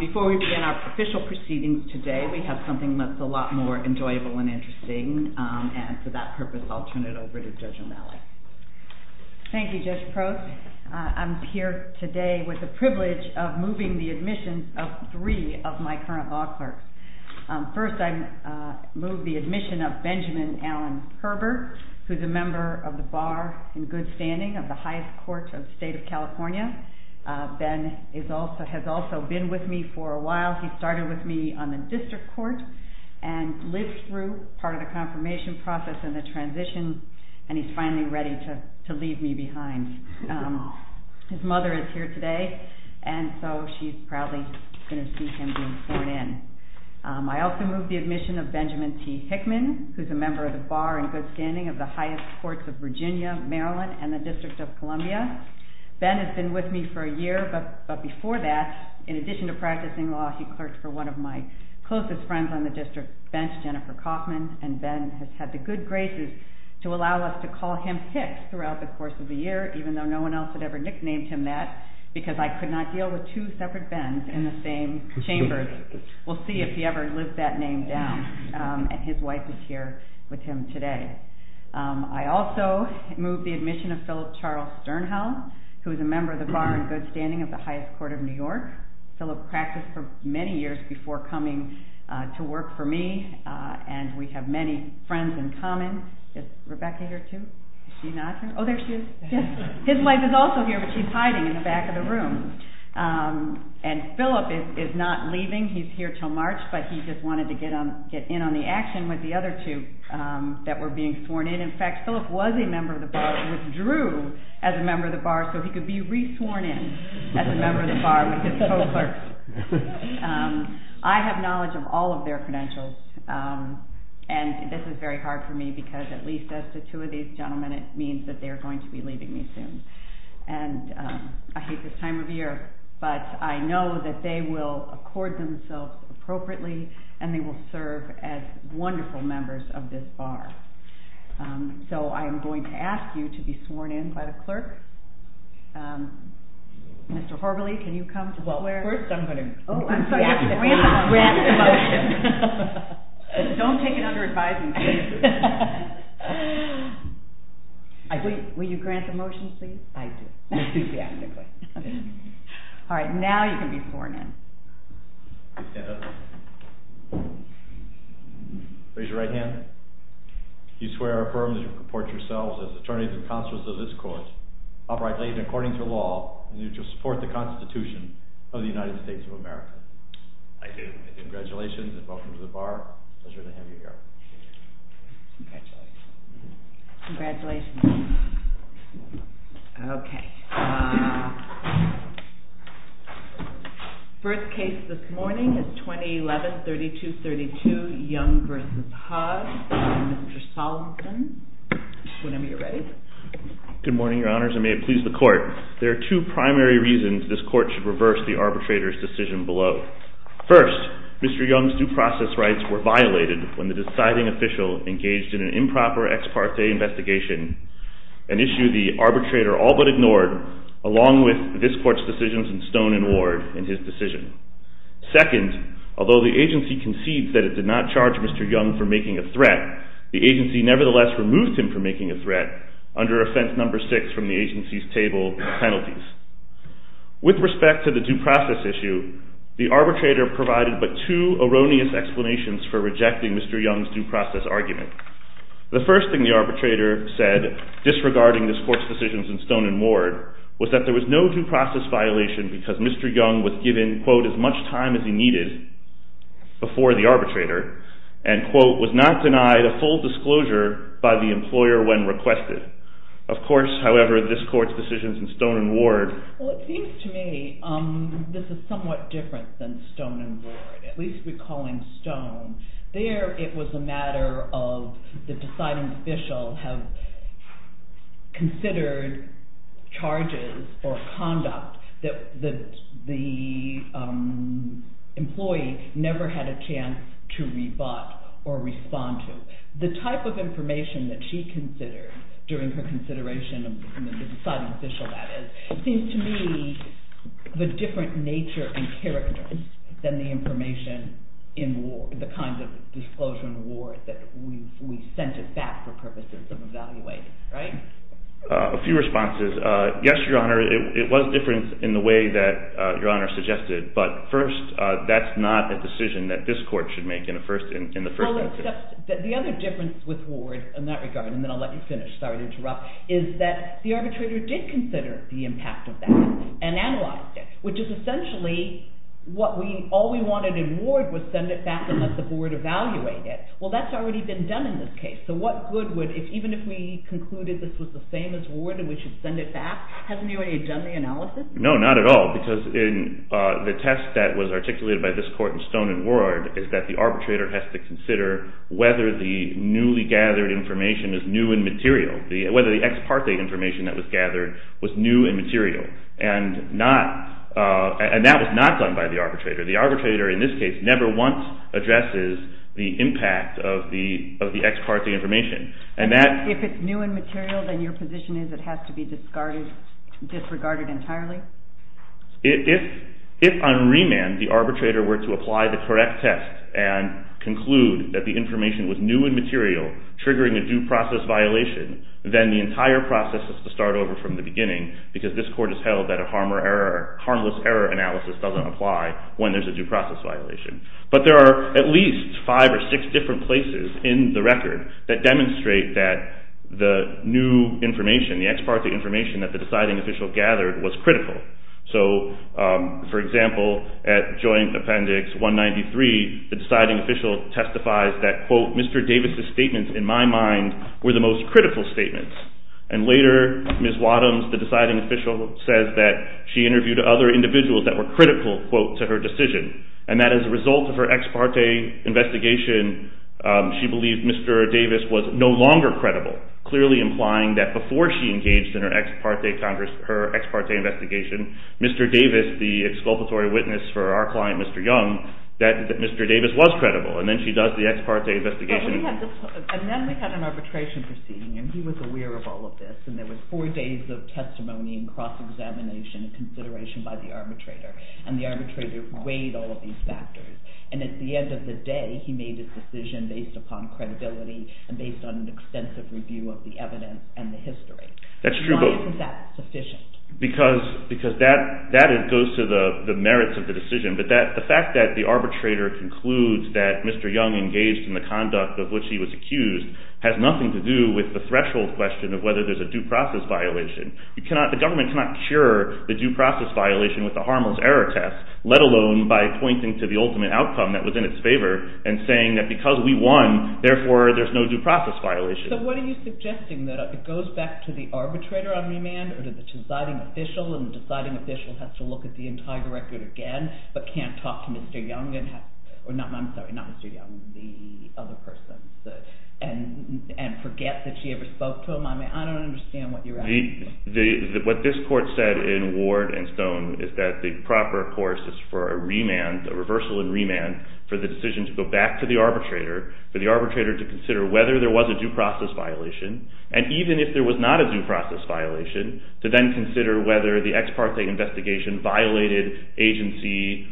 Before we begin our official proceedings today, we have something that's a lot more enjoyable and interesting. And for that purpose, I'll turn it over to Judge O'Malley. Thank you, Judge Proce. I'm here today with the privilege of moving the admission of three of my current law clerks. First, I move the admission of Benjamin Allen Herber, who's a member of the Bar in Good Standing, of the highest court of the state of California. Ben has also been with me for a while. He started with me on the district court and lived through part of the confirmation process and the transition. And he's finally ready to leave me behind. His mother is here today. And so she's probably going to see him being sworn in. I also move the admission of Benjamin T. Hickman, who's a member of the Bar in Good Standing of the highest courts of Virginia, Maryland, and the District of Columbia. Ben has been with me for a year, but before that, in addition to practicing law, he clerked for one of my closest friends on the district bench, Jennifer Kaufman. And Ben has had the good graces to allow us to call him Hick throughout the course of the year, even though no one else had ever nicknamed him that, because I could not deal with two separate Bens in the same chamber. We'll see if he ever lives that name down. And his wife is here with him today. I also move the admission of Philip Charles Sternhau, who is a member of the Bar in Good Standing of the highest court of New York. Philip practiced for many years before coming to work for me. And we have many friends in common. Is Rebecca here, too? Is she not here? Oh, there she is. His wife is also here, but she's hiding in the back of the room. And Philip is not leaving. He's here till March, but he just wanted to get in on the action with the other two that were being sworn in. In fact, Philip was a member of the Bar and withdrew as a member of the Bar so he could be re-sworn in as a member of the Bar with his co-clerks. I have knowledge of all of their credentials. And this is very hard for me, because at least as the two of these gentlemen, it means that they're going to be leaving me soon. And I hate this time of year, but I know that they will accord themselves appropriately, and they will serve as wonderful members of this Bar. So I'm going to ask you to be sworn in by the clerk. Mr. Horvilley, can you come to the square? Well, first I'm going to grant the motion. Don't take it under advisement, please. Will you grant the motion, please? I do. I do grant the motion. All right, now you can be sworn in. Raise your right hand. You swear or affirm that you comport yourselves as attorneys and counselors of this court, uprightly and according to law, and that you support the Constitution of the United States of America. I do. Congratulations, and welcome to the Bar. Pleasure to have you here. Congratulations. Congratulations. OK. OK. First case this morning is 2011-3232, Young v. Hodge v. Mr. Solomon. Whenever you're ready. Good morning, Your Honors, and may it please the court. There are two primary reasons this court should reverse the arbitrator's decision below. First, Mr. Young's due process rights were violated when the deciding official engaged in an improper ex parte investigation, an issue the arbitrator all but ignored, along with this court's decisions in Stone and Ward in his decision. Second, although the agency concedes that it did not charge Mr. Young for making a threat, the agency nevertheless removed him for making a threat under offense number six from the agency's table of penalties. With respect to the due process issue, the arbitrator provided but two erroneous explanations for rejecting Mr. Young's due process argument. The first thing the arbitrator said, disregarding this court's decisions in Stone and Ward, was that there was no due process violation because Mr. Young was given, quote, as much time as he needed before the arbitrator, and, quote, was not denied a full disclosure by the employer when requested. Of course, however, this court's decisions in Stone and Ward. Well, it seems to me this is somewhat different than Stone and Ward, at least recalling Stone. There, it was a matter of the deciding official have considered charges for conduct that the employee never had a chance to rebut or respond to. The type of information that she considered during her consideration of the deciding official, that is, seems to me of a different nature and character than the information in the kind of disclosure in Ward that we sent it back for purposes of evaluating, right? A few responses. Yes, Your Honor, it was different in the way that Your Honor suggested. But first, that's not a decision that this court should make in the first instance. The other difference with Ward in that regard, and then I'll let you finish, sorry to interrupt, is that the arbitrator did consider the impact of that and analyzed it, which is essentially what all we wanted in Ward was send it back and let the board evaluate it. Well, that's already been done in this case. So what good would it, even if we concluded this was the same as Ward and we should send it back, hasn't anybody done the analysis? No, not at all, because in the test that was articulated by this court in Stone and Ward is that the arbitrator has to consider whether the newly gathered information is new and material, whether the ex parte information that was gathered was new and material. And that was not done by the arbitrator. The arbitrator, in this case, never once addresses the impact of the ex parte information. And that's if it's new and material, then your position is it has to be disregarded entirely? If on remand the arbitrator were to apply the correct test and conclude that the information was new and material, triggering a due process violation, then the entire process has to start over from the beginning, because this court has held that a harmless error analysis doesn't apply when there's a due process violation. But there are at least five or six different places in the record that demonstrate that the new information, the ex parte information that the deciding official gathered was critical. So for example, at joint appendix 193, the deciding official testifies that, quote, Mr. Davis's statements, in my mind, were the most critical statements. And later, Ms. Wadhams, the deciding official, says that she interviewed other individuals that were critical, quote, to her decision. And that as a result of her ex parte investigation, she believed Mr. Davis was no longer credible, clearly implying that before she engaged in her ex parte investigation, Mr. Davis, the exculpatory witness for our client, Mr. Young, that Mr. Davis was credible. And then she does the ex parte investigation. And then we had an arbitration proceeding, and he was aware of all of this. And there was four days of testimony and cross-examination and consideration by the arbitrator. And the arbitrator weighed all of these factors. And at the end of the day, he made his decision based upon credibility and based on an extensive review of the evidence and the history. That's true. Why isn't that sufficient? Because that goes to the merits of the decision. But the fact that the arbitrator concludes that Mr. Young engaged in the conduct of which he was accused has nothing to do with the threshold question of whether there's a due process violation. The government cannot cure the due process violation with the Harmel's error test, let alone by pointing to the ultimate outcome that was in its favor and saying that because we won, therefore there's no due process violation. So what are you suggesting? That it goes back to the arbitrator on remand or to the deciding official, and the deciding official has to look at the entire record again, but can't talk to Mr. Young and have the other person and forget that she ever spoke to him? I mean, I don't understand what you're asking. What this court said in Ward and Stone is that the proper course is for a remand, a reversal in remand, for the decision to go back to the arbitrator, for the arbitrator to consider whether there was a due process violation. And even if there was not a due process violation, to then consider whether the ex parte investigation violated agency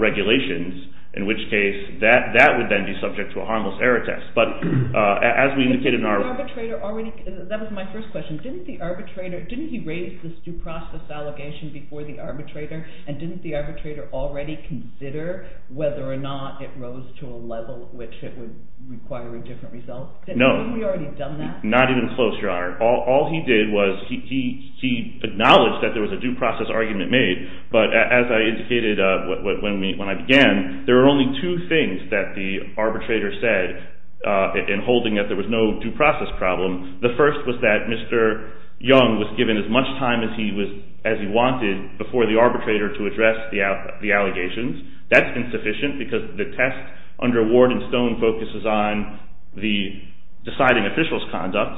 regulations, in which case that would then be subject to a Harmel's error test. But as we indicated in our- Didn't the arbitrator already- that was my first question. Didn't he raise this due process allegation before the arbitrator? And didn't the arbitrator already consider whether or not it rose to a level which it would require a different result? No. Hadn't he already done that? Not even close, Your Honor. All he did was he acknowledged that there was a due process argument made. But as I indicated when I began, there were only two things that the arbitrator said in holding that there was no due process problem. The first was that Mr. Young was given as much time as he wanted before the arbitrator to address the allegations. That's insufficient, because the test under Ward and Stone focuses on the deciding official's conduct.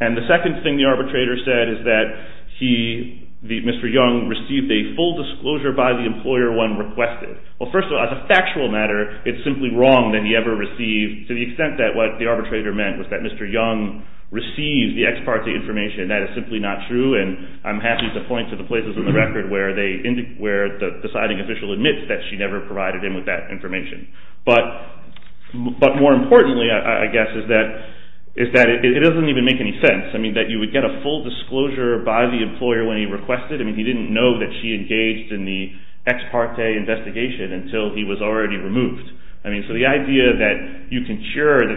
And the second thing the arbitrator said is that Mr. Young received a full disclosure by the employer when requested. Well, first of all, as a factual matter, it's simply wrong that he ever received to the extent that what the arbitrator meant was that Mr. Young received the ex parte information. That is simply not true. And I'm happy to point to the places in the record where the deciding official admits that she never provided him with that information. But more importantly, I guess, is that it doesn't even make any sense that you would get a full disclosure by the employer when he requested. I mean, he didn't know that she engaged in the ex parte investigation until he was already removed. So the idea that the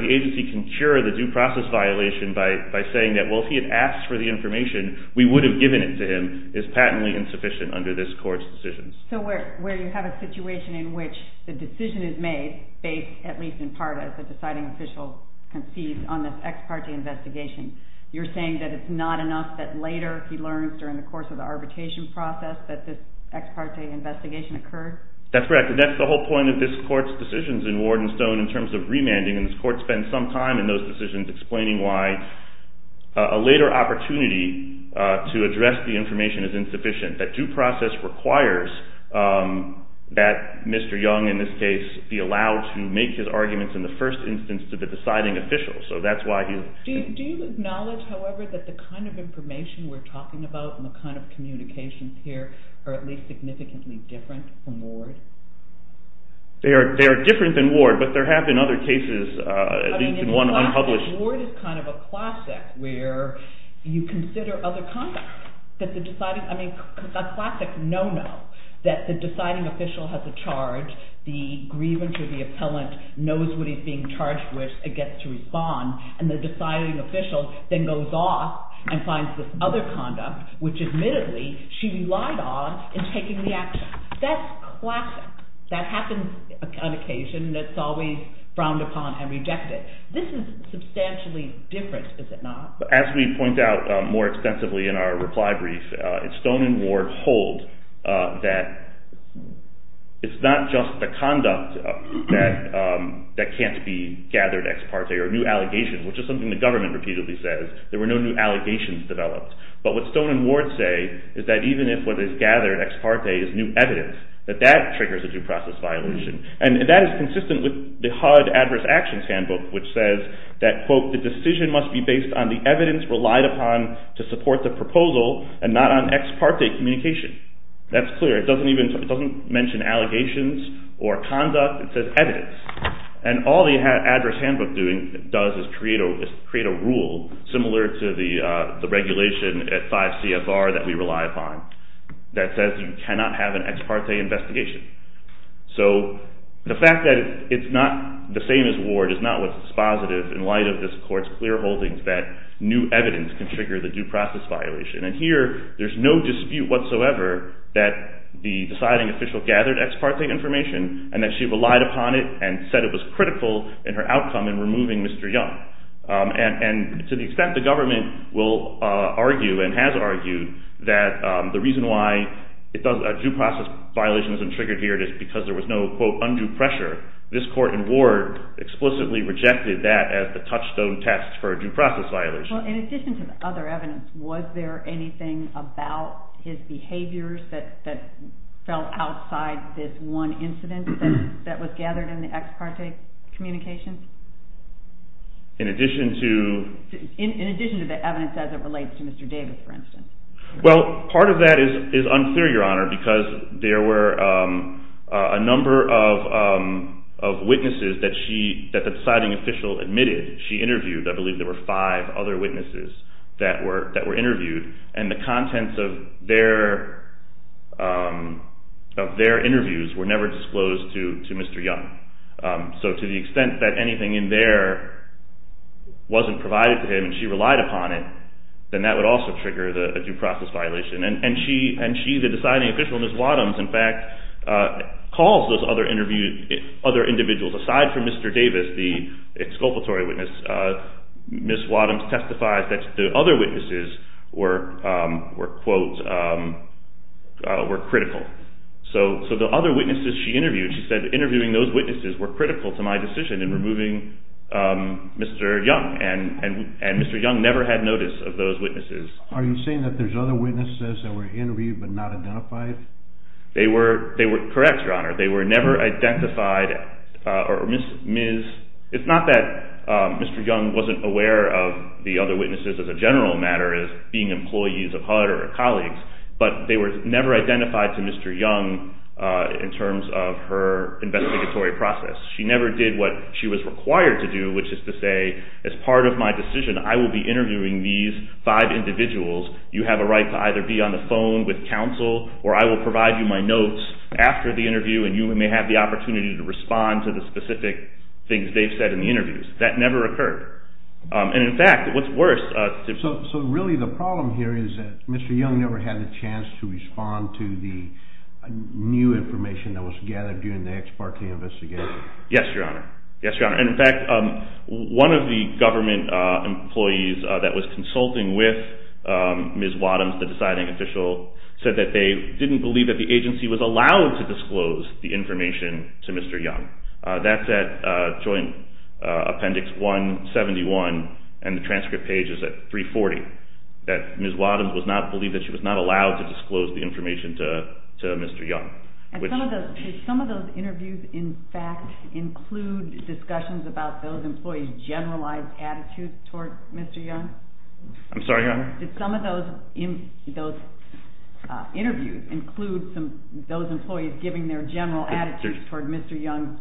agency can cure the due process violation by saying that, well, if he had asked for the information, we would have given it to him, is patently insufficient under this court's decisions. So where you have a situation in which the decision is made based, at least in part, as the deciding official concedes on this ex parte investigation, you're saying that it's not enough that later, if he learns during the course of the arbitration process, that this ex parte investigation occurred? That's correct. And that's the whole point of this court's decisions in Ward and Stone in terms of remanding. And this court spent some time in those decisions explaining why a later opportunity to address the information is insufficient. That due process requires that Mr. Young, in this case, be allowed to make his arguments in the first instance to the deciding official. Do you acknowledge, however, that the kind of information we're talking about and the kind of communications here are at least significantly different from Ward? They are different than Ward, but there have been other cases, at least in one unpublished. Ward is kind of a classic, where you consider other conduct. I mean, a classic no-no, that the deciding official has a charge, the grievance of the appellant knows what he's being charged with and gets to respond. And the deciding official then goes off and finds this other conduct, which, admittedly, she relied on in taking the action. That's classic. That happens on occasion. That's always frowned upon and rejected. This is substantially different, is it not? As we point out more extensively in our reply brief, Stone and Ward hold that it's not just the conduct that can't be gathered ex parte or new allegations, which is something the government repeatedly says. There were no new allegations developed. But what Stone and Ward say is that even if what is gathered ex parte is new evidence, that that triggers a due process violation. And that is consistent with the HUD Adverse Actions Handbook, which says that, quote, the decision must be based on the evidence relied upon to support the proposal and not on ex parte communication. That's clear. It doesn't mention allegations or conduct. It says evidence. And all the Adverse Handbook does is create a rule similar to the regulation at 5 CFR that we rely upon that says you cannot have an ex parte investigation. So the fact that it's not the same as Ward is not what's dispositive in light of this court's clear holdings that new evidence can trigger the due process violation. And here, there's no dispute whatsoever that the deciding official gathered ex parte information and that she relied upon it and said it was critical in her outcome in removing Mr. Young. And to the extent the government will argue and has argued that the reason why a due process violation isn't triggered here is because there was no, quote, undue pressure, this court in Ward explicitly rejected that as the touchstone test for a due process violation. Well, in addition to the other evidence, was there anything about his behaviors that fell outside this one incident that was gathered in the ex parte communications? In addition to? In addition to the evidence as it relates to Mr. Davis, for instance. Well, part of that is unclear, Your Honor, because there were a number of witnesses that the deciding official admitted she interviewed. I believe there were five other witnesses that were interviewed. And the contents of their interviews were never disclosed to Mr. Young. So to the extent that anything in there wasn't provided to him and she relied upon it, then that would also trigger a due process violation. And she, the deciding official, Ms. Wadhams, in fact, calls those other individuals. Aside from Mr. Davis, the exculpatory witness, Ms. Wadhams testifies that the other witnesses were, quote, were critical. So the other witnesses she interviewed, she said interviewing those witnesses were critical to my decision in removing Mr. Young. And Mr. Young never had notice of those witnesses. Are you saying that there's other witnesses that were interviewed but not identified? They were correct, Your Honor. They were never identified. Or Ms. It's not that Mr. Young wasn't aware of the other witnesses as a general matter, as being employees of HUD or colleagues. But they were never identified to Mr. Young in terms of her investigatory process. She never did what she was required to do, which is to say, as part of my decision, I will be interviewing these five individuals. You have a right to either be on the phone with counsel, or I will provide you my notes after the interview. And you may have the opportunity to respond to the specific things they've said in the interviews. That never occurred. And in fact, what's worse. So really, the problem here is that Mr. Young never had a chance to respond to the new information that was gathered during the ex parte investigation. Yes, Your Honor. Yes, Your Honor. And in fact, one of the government employees that was consulting with Ms. Wadhams, the deciding official, said that they didn't believe that the agency was allowed to disclose the information to Mr. Young. That's at Joint Appendix 171. And the transcript page is at 340. That Ms. Wadhams was not believed that she was not allowed to disclose the information to Mr. Young. And some of those interviews, in fact, include discussions about those employees' generalized attitudes toward Mr. Young? I'm sorry, Your Honor? Did some of those interviews include those employees giving their general attitudes toward Mr. Young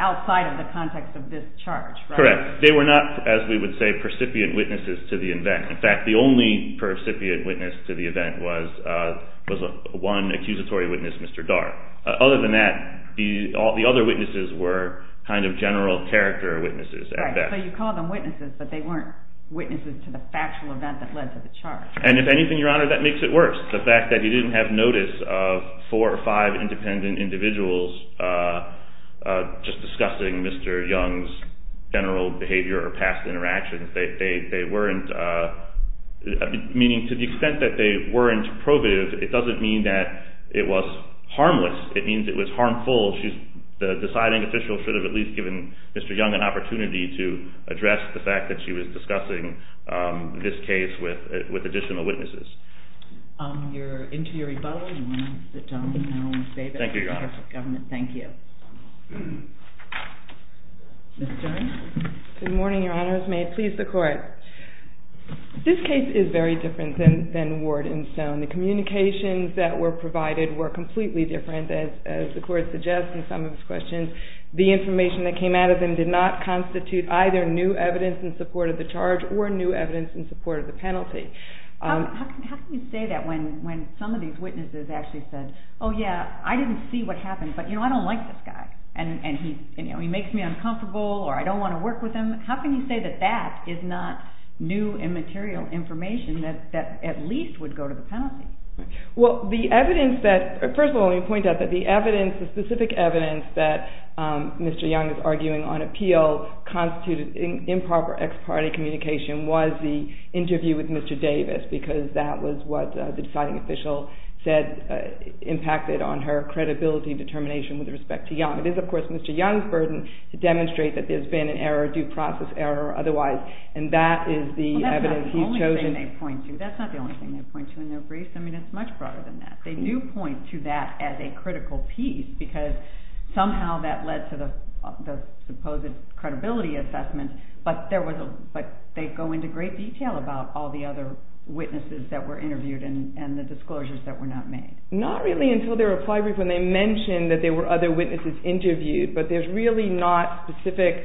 outside of the context of this charge? Correct. They were not, as we would say, percipient witnesses to the event. In fact, the only percipient witness to the event was one accusatory witness, Mr. Dart. Other than that, the other witnesses were kind of general character witnesses at best. So you call them witnesses, but they weren't witnesses to the factual event that led to the charge. And if anything, Your Honor, that makes it worse. The fact that you didn't have notice of four or five independent individuals just discussing Mr. Young's general behavior or past interactions, meaning to the extent that they weren't probative, it doesn't mean that it was harmless. It means it was harmful. The deciding official should have at least given Mr. Young an opportunity to address the fact that she was discussing this case with additional witnesses. Your interior rebuttal, you want to sit down now, Ms. Davis? Thank you, Your Honor. Government, thank you. Ms. Jones? Good morning, Your Honors. May it please the Court. This case is very different than Ward and Stone. The communications that were provided were completely different, as the Court suggests in some of his questions. The information that came out of them did not constitute either new evidence in support of the charge or new evidence in support of the penalty. How can you say that when some of these witnesses actually said, oh, yeah, I didn't see what happened, but I don't like this guy. And he makes me uncomfortable, or I don't want to work with him. How can you say that that is not new and material information that at least would go to the penalty? Well, the evidence that, first of all, let me point out that the evidence, the specific evidence that Mr. Young is arguing on appeal constituted improper ex parte communication was the interview with Mr. Davis, because that was what the deciding official said impacted on her credibility determination with respect to Young. It is, of course, Mr. Young's burden to demonstrate that there's been an error, due process error, or otherwise. And that is the evidence he's chosen. Well, that's not the only thing they point to. That's not the only thing they point to in their briefs. I mean, it's much broader than that. They do point to that as a critical piece, because somehow that led to the supposed credibility assessment. But they go into great detail about all the other witnesses that were interviewed and the disclosures that were not made. Not really until their reply brief when they mention that there were other witnesses interviewed. But there's really not specific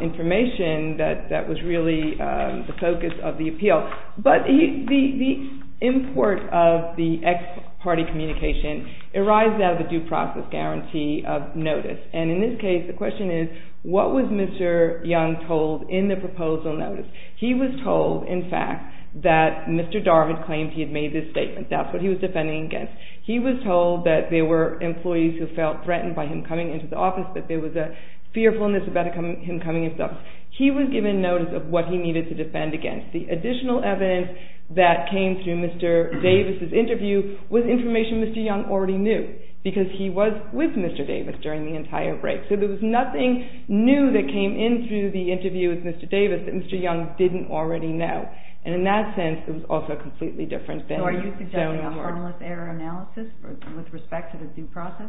information that was really the focus of the appeal. But the import of the ex parte communication arises out of the due process guarantee of notice. And in this case, the question is, what was Mr. Young told in the proposal notice? He was told, in fact, that Mr. Darvid claimed he had made this statement. That's what he was defending against. He was told that there were employees who felt threatened by him coming into the office, that there was a fearfulness about him coming himself. He was given notice of what he needed to defend against. The additional evidence that came through Mr. Davis' interview was information Mr. Young already knew, because he was with Mr. Davis during the entire break. So there was nothing new that came in through the interview with Mr. Davis that Mr. Young didn't already know. And in that sense, it was also completely different than the zone of work. So are you suggesting a harmless error analysis with respect to the due process?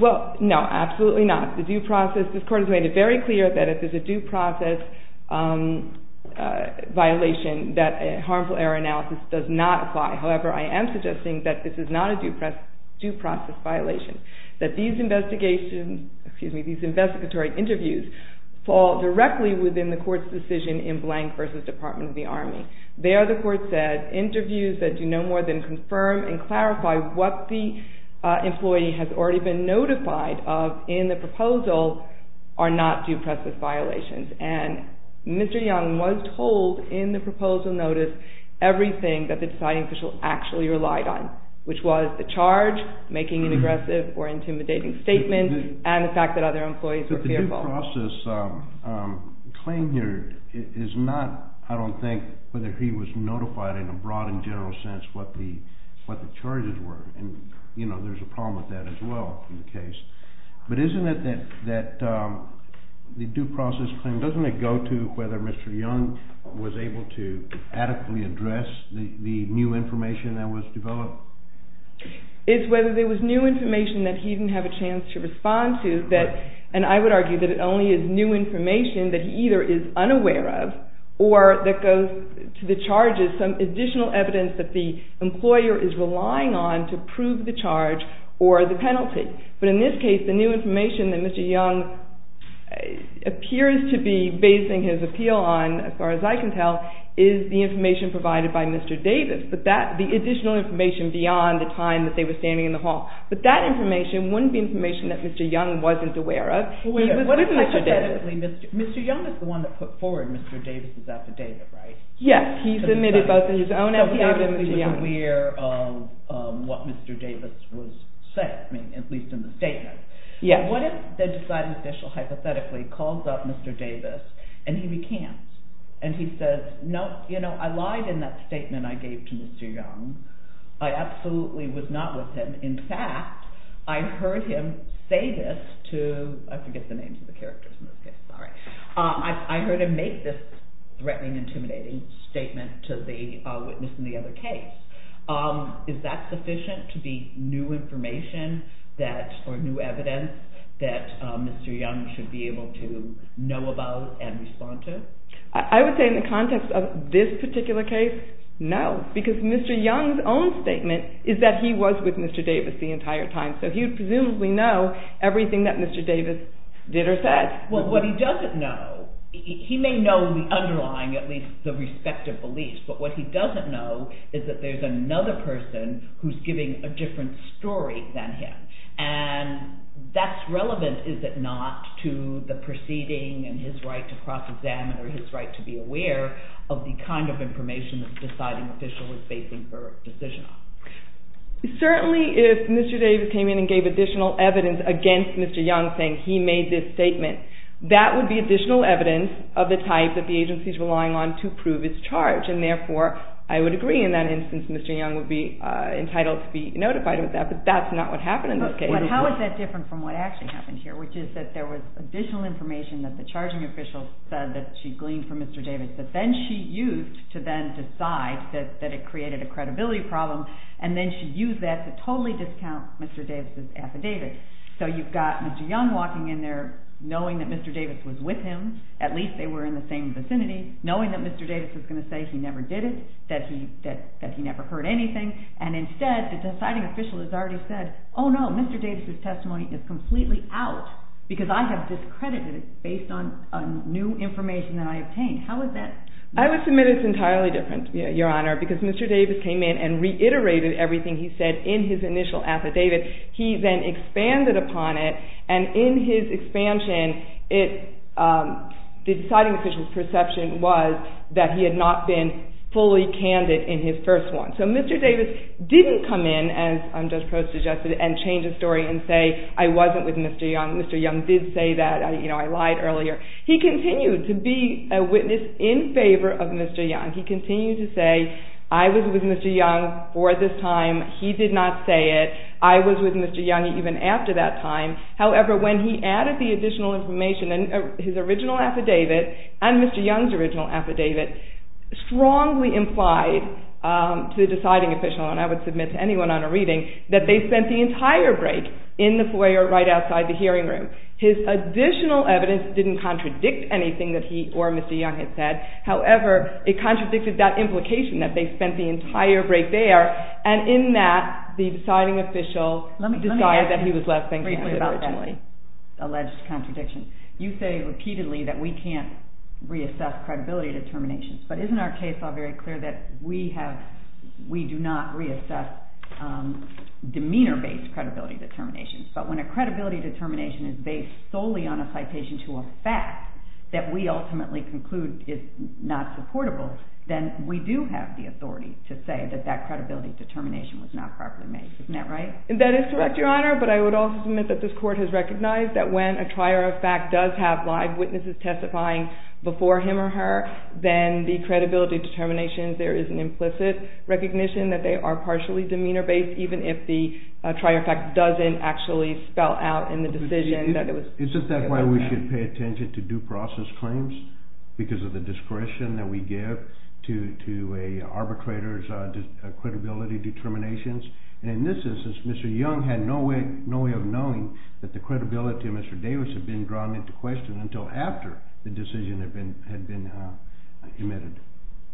Well, no, absolutely not. The due process, this court has made it very clear that if there's a due process violation, that a harmful error analysis does not apply. However, I am suggesting that this is not a due process violation. That these investigatory interviews fall directly within the court's decision in blank versus Department of the Army. There, the court said, interviews that do no more than confirm and clarify what the employee has already been notified of in the proposal are not due process violations. And Mr. Young was told in the proposal notice everything that the deciding official actually relied on, which was the charge, making an aggressive or intimidating statement, and the fact that other employees were fearful. But the due process claim here is not, I don't think, whether he was notified in a broad and general sense what the charges were. And there's a problem with that as well in the case. But isn't it that the due process claim, doesn't it go to whether Mr. Young was able to adequately address the new information that was developed? It's whether there was new information that he didn't have a chance to respond to that, and I would argue that it only is new information that he either is unaware of or that goes to the charges, some additional evidence that the employer is relying on to prove the charge or the penalty. But in this case, the new information that Mr. Young appears to be basing his appeal on, as far as I can tell, is the information provided by Mr. Davis. The additional information beyond the time that they were standing in the hall. But that information wouldn't be information that Mr. Young wasn't aware of. He was with Mr. Davis. Mr. Young is the one that put forward Mr. Davis' affidavit, right? Yes, he submitted both in his own affidavit and Mr. Young. So he obviously was aware of what Mr. Davis was saying, at least in the statement. What if the decided official hypothetically calls up Mr. Davis, and he recants? And he says, no, I lied in that statement that I gave to Mr. Young. I absolutely was not with him. In fact, I heard him say this to, I forget the names of the characters in this case. Sorry. I heard him make this threatening, intimidating statement to the witness in the other case. Is that sufficient to be new information or new evidence that Mr. Young should be able to know about and respond to? I would say in the context of this particular case, no. Because Mr. Young's own statement is that he was with Mr. Davis the entire time. So he would presumably know everything that Mr. Davis did or said. Well, what he doesn't know, he may know the underlying, at least the respective beliefs. But what he doesn't know is that there's another person who's giving a different story than him. And that's relevant, is it not, to the proceeding and his right to cross-examine or his right to be aware of the kind of information that the deciding official is basing her decision on. Certainly, if Mr. Davis came in and gave additional evidence against Mr. Young, saying he made this statement, that would be additional evidence of the type that the agency is relying on to prove its charge. And therefore, I would agree in that instance, Mr. Young would be entitled to be notified of that. But that's not what happened in this case. But how is that different from what actually happened here, which is that there was additional information that the charging official said that she used to then decide that it created a credibility problem. And then she used that to totally discount Mr. Davis' affidavit. So you've got Mr. Young walking in there, knowing that Mr. Davis was with him, at least they were in the same vicinity, knowing that Mr. Davis was going to say he never did it, that he never heard anything. And instead, the deciding official has already said, oh no, Mr. Davis' testimony is completely out, because I have discredited it based on new information that I obtained. I would submit it's entirely different, Your Honor, because Mr. Davis came in and reiterated everything he said in his initial affidavit. He then expanded upon it. And in his expansion, the deciding official's perception was that he had not been fully candid in his first one. So Mr. Davis didn't come in, as Judge Probst suggested, and change the story and say, I wasn't with Mr. Young. Mr. Young did say that I lied earlier. He continued to be a witness in favor of Mr. Young. He continued to say, I was with Mr. Young for this time. He did not say it. I was with Mr. Young even after that time. However, when he added the additional information in his original affidavit and Mr. Young's original affidavit, strongly implied to the deciding official, and I would submit to anyone on a reading, that they spent the entire break in the foyer right outside the hearing room. His additional evidence didn't contradict anything that he or Mr. Young had said. However, it contradicted that implication that they spent the entire break there. And in that, the deciding official decided that he was less than candid originally. Alleged contradiction. You say repeatedly that we can't reassess credibility determinations. But isn't our case all very clear that we do not reassess demeanor-based credibility determinations? But when a credibility determination is based solely on a citation to a fact that we ultimately conclude is not supportable, then we do have the authority to say that that credibility determination was not properly made. Isn't that right? That is correct, Your Honor. But I would also submit that this court has recognized that when a trier of fact does have live witnesses testifying before him or her, then the credibility determinations, there is an implicit recognition that they are partially demeanor-based, even if the trier of fact doesn't actually spell out in the decision that it was Is that why we should pay attention to due process claims? Because of the discretion that we give to a arbitrator's credibility determinations? And in this instance, Mr. Young had no way of knowing that the credibility of Mr. Davis had been drawn into question until after the decision had been admitted.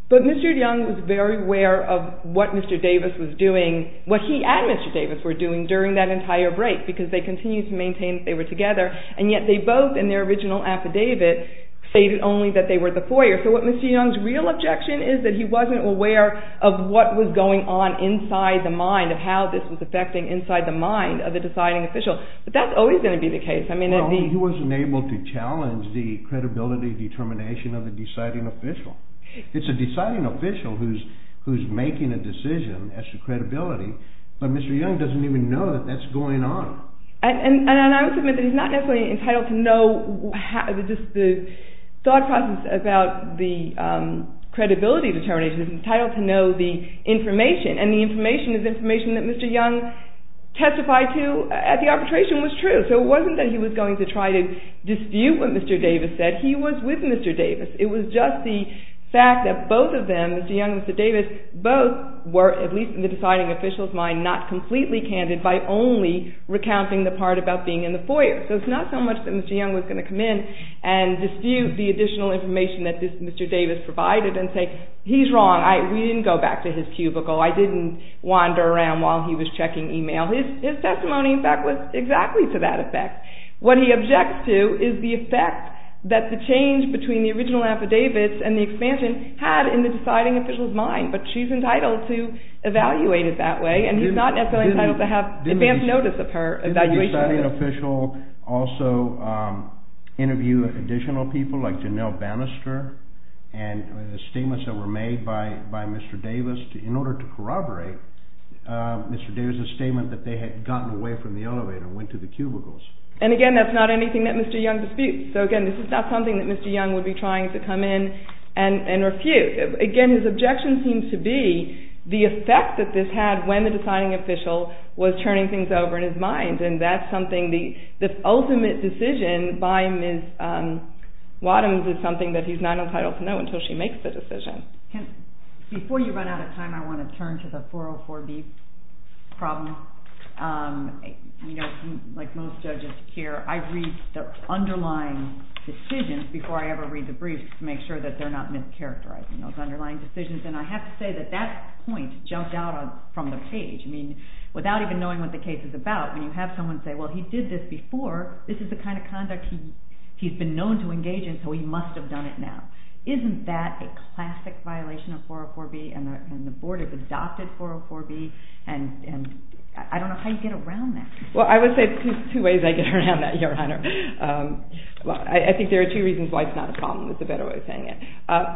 But Mr. Young was very aware of what Mr. Davis was doing, what he and Mr. Davis were doing during that entire break, because they continued to maintain that they were together, and yet they both, in their original affidavit, stated only that they were the foyer. So what Mr. Young's real objection is that he wasn't aware of what was going on inside the mind, of how this was affecting inside the mind of the deciding official. But that's always going to be the case. Well, he wasn't able to challenge the credibility determination of the deciding official. It's a deciding official who's making a decision as to credibility, but Mr. Young doesn't even know that that's going on. And I would submit that he's not necessarily entitled to know the thought process about the credibility determination. He's entitled to know the information. And the information is information that Mr. Young testified to at the arbitration was true. So it wasn't that he was going to try to dispute what Mr. Davis said. He was with Mr. Davis. It was just the fact that both of them, Mr. Young and Mr. Davis, both were, at least in the deciding official's mind, not completely candid by only recounting the part about being in the foyer. So it's not so much that Mr. Young was going to come in and dispute the additional information that Mr. Davis provided and say, he's wrong. We didn't go back to his cubicle. I didn't wander around while he was checking email. His testimony, in fact, was exactly to that effect. What he objects to is the effect that the change between the original affidavits and the expansion had in the deciding official's mind. But she's entitled to evaluate it that way. And he's not necessarily entitled to have advance notice of her evaluation. Didn't the deciding official also interview additional people like Janelle Bannister and the statements that were made by Mr. Davis that they had gotten away from the elevator and went to the cubicles? And again, that's not anything that Mr. Young disputes. So again, this is not something that Mr. Young would be trying to come in and refute. Again, his objection seems to be the effect that this had when the deciding official was turning things over in his mind. And that's something, the ultimate decision by Ms. Wadhams is something that he's not entitled to know until she makes the decision. Before you run out of time, I want to turn to the 404B problem. Like most judges here, I read the underlying decisions before I ever read the briefs to make sure that they're not mischaracterizing those underlying decisions. And I have to say that that point jumped out from the page. I mean, without even knowing what the case is about, when you have someone say, well, he did this before, this is the kind of conduct he's been known to engage in, so he must have done it now. Isn't that a classic violation of 404B and the board has adopted 404B? And I don't know how you get around that. Well, I would say two ways I get around that, Your Honor. I think there are two reasons why it's not a problem. That's a better way of saying it.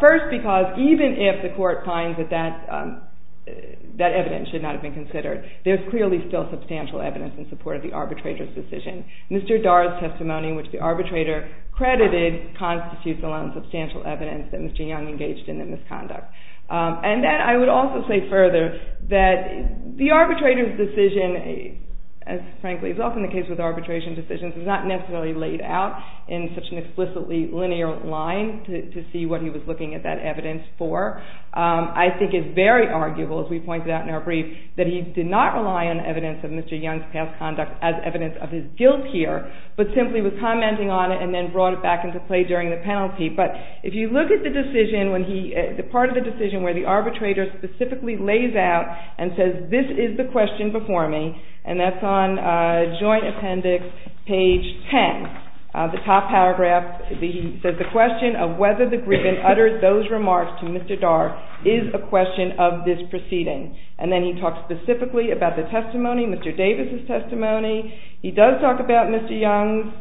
First, because even if the court finds that that evidence should not have been considered, there's clearly still substantial evidence in support of the arbitrator's decision. Mr. Darr's testimony, which the arbitrator credited, constitutes alone substantial evidence that Mr. Young engaged in the misconduct. And then I would also say further that the arbitrator's decision, as frankly is often the case with arbitration decisions, is not necessarily laid out in such an explicitly linear line to see what he was looking at that evidence for. I think it's very arguable, as we pointed out in our brief, that he did not rely on evidence of Mr. Young's past conduct as evidence of his guilt here, but simply was commenting on it and then brought it back into play during the penalty. But if you look at the decision, the part of the decision where the arbitrator specifically lays out and says, this is the question before me, and that's on joint appendix page 10, the top paragraph, he says, the question of whether the griffin uttered those remarks to Mr. Darr is a question of this proceeding. And then he talks specifically about the testimony, Mr. Davis' testimony. He does talk about Mr. Young's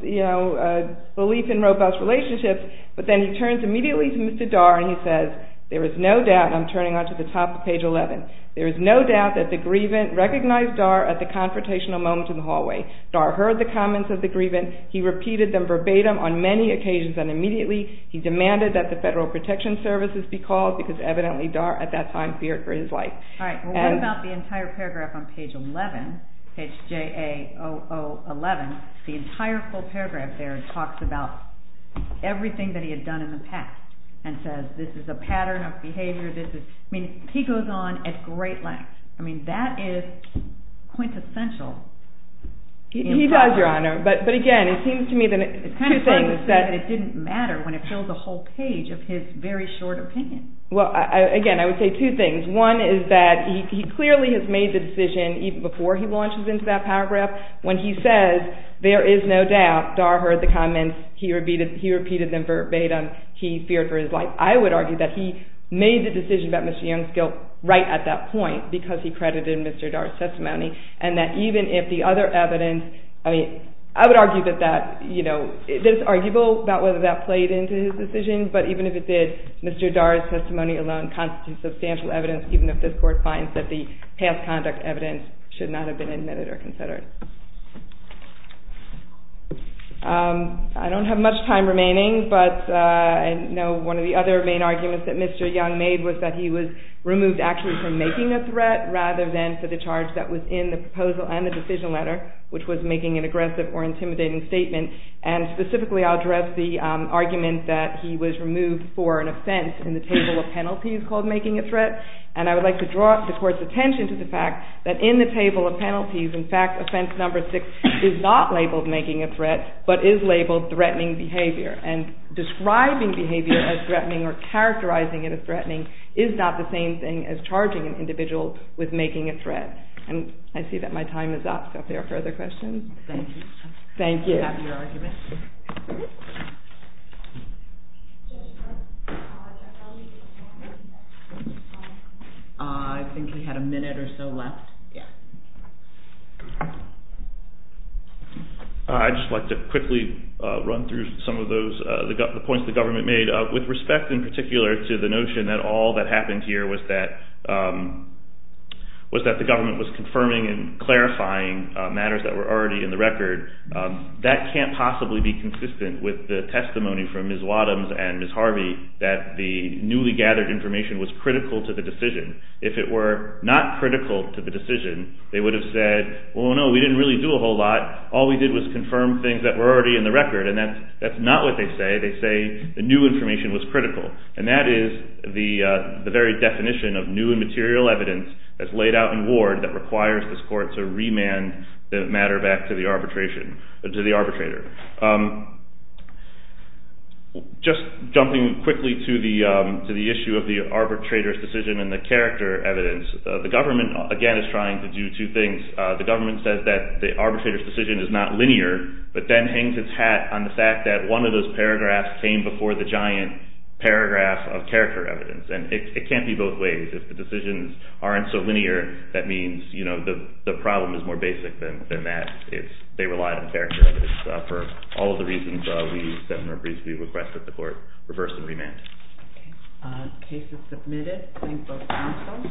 belief in robust relationships, but then he turns immediately to Mr. Darr, and he says, there is no doubt, and I'm turning on to the top of page 11, there is no doubt that the grievant recognized Darr at the confrontational moment in the hallway. Darr heard the comments of the grievant. He repeated them verbatim on many occasions. And immediately, he demanded that the Federal Protection Services be called, because evidently, Darr, at that time, feared for his life. All right, well, what about the entire paragraph on page 11, page J-A-O-O-11? The entire full paragraph there talks about everything that he had done in the past, and says, this is a pattern of behavior, this is, I mean, he goes on at great length. I mean, that is quintessential. He does, Your Honor. But again, it seems to me that it's two things that it didn't matter when it filled the whole page of his very short opinion. Well, again, I would say two things. One is that he clearly has made the decision, even before he launches into that paragraph, when he says, there is no doubt, Darr heard the comments. He repeated them verbatim. He feared for his life. I would argue that he made the decision about Mr. Youngskill right at that point, because he credited Mr. Darr's testimony. And that even if the other evidence, I mean, I would argue that it's arguable about whether that played into his decision. But even if it did, Mr. Darr's testimony alone constitutes substantial evidence, even if this Court finds that the past conduct evidence should not have been admitted or considered. I don't have much time remaining, but I know one of the other main arguments that Mr. Young made was that he was removed actually from making a threat, rather than for the charge that was in the proposal and the decision letter, which was making an aggressive or intimidating statement. And specifically, I'll address the argument that he was removed for an offense in the table of penalties called making a threat. And I would like to draw the Court's attention to the fact that in the table of penalties, in fact, offense number six is not labeled making a threat, but is labeled threatening behavior. And describing behavior as threatening or characterizing it as threatening is not the same thing as charging an individual with making a threat. And I see that my time is up. Are there further questions? Thank you. Thank you. Do you have your argument? Yes. I think we had a minute or so left. Yeah. I'd just like to quickly run through some of the points the government made, with respect in particular to the notion that all that happened here was that the government was confirming and clarifying matters that were already in the record. That can't possibly be consistent with the testimony from Ms. Wadhams and Ms. Harvey that the newly gathered information was critical to the decision. If it were not critical to the decision, they would have said, well, no, we didn't really do a whole lot. All we did was confirm things that were already in the record. And that's not what they say. They say the new information was critical. And that is the very definition of new and material evidence that's laid out in ward that requires this Court to remand the matter back to the arbitrator. Just jumping quickly to the issue of the arbitrator's decision and the character evidence, the government, again, is trying to do two things. The government says that the arbitrator's decision is not linear, but then hangs its hat on the fact that one of those paragraphs came before the giant paragraph of character evidence. And it can't be both ways. If the decisions aren't so linear, that means the problem is more basic than that. They relied on character evidence for all of the reasons we set in our briefs that we requested the Court reverse and remand. Case is submitted. Thank both counsels.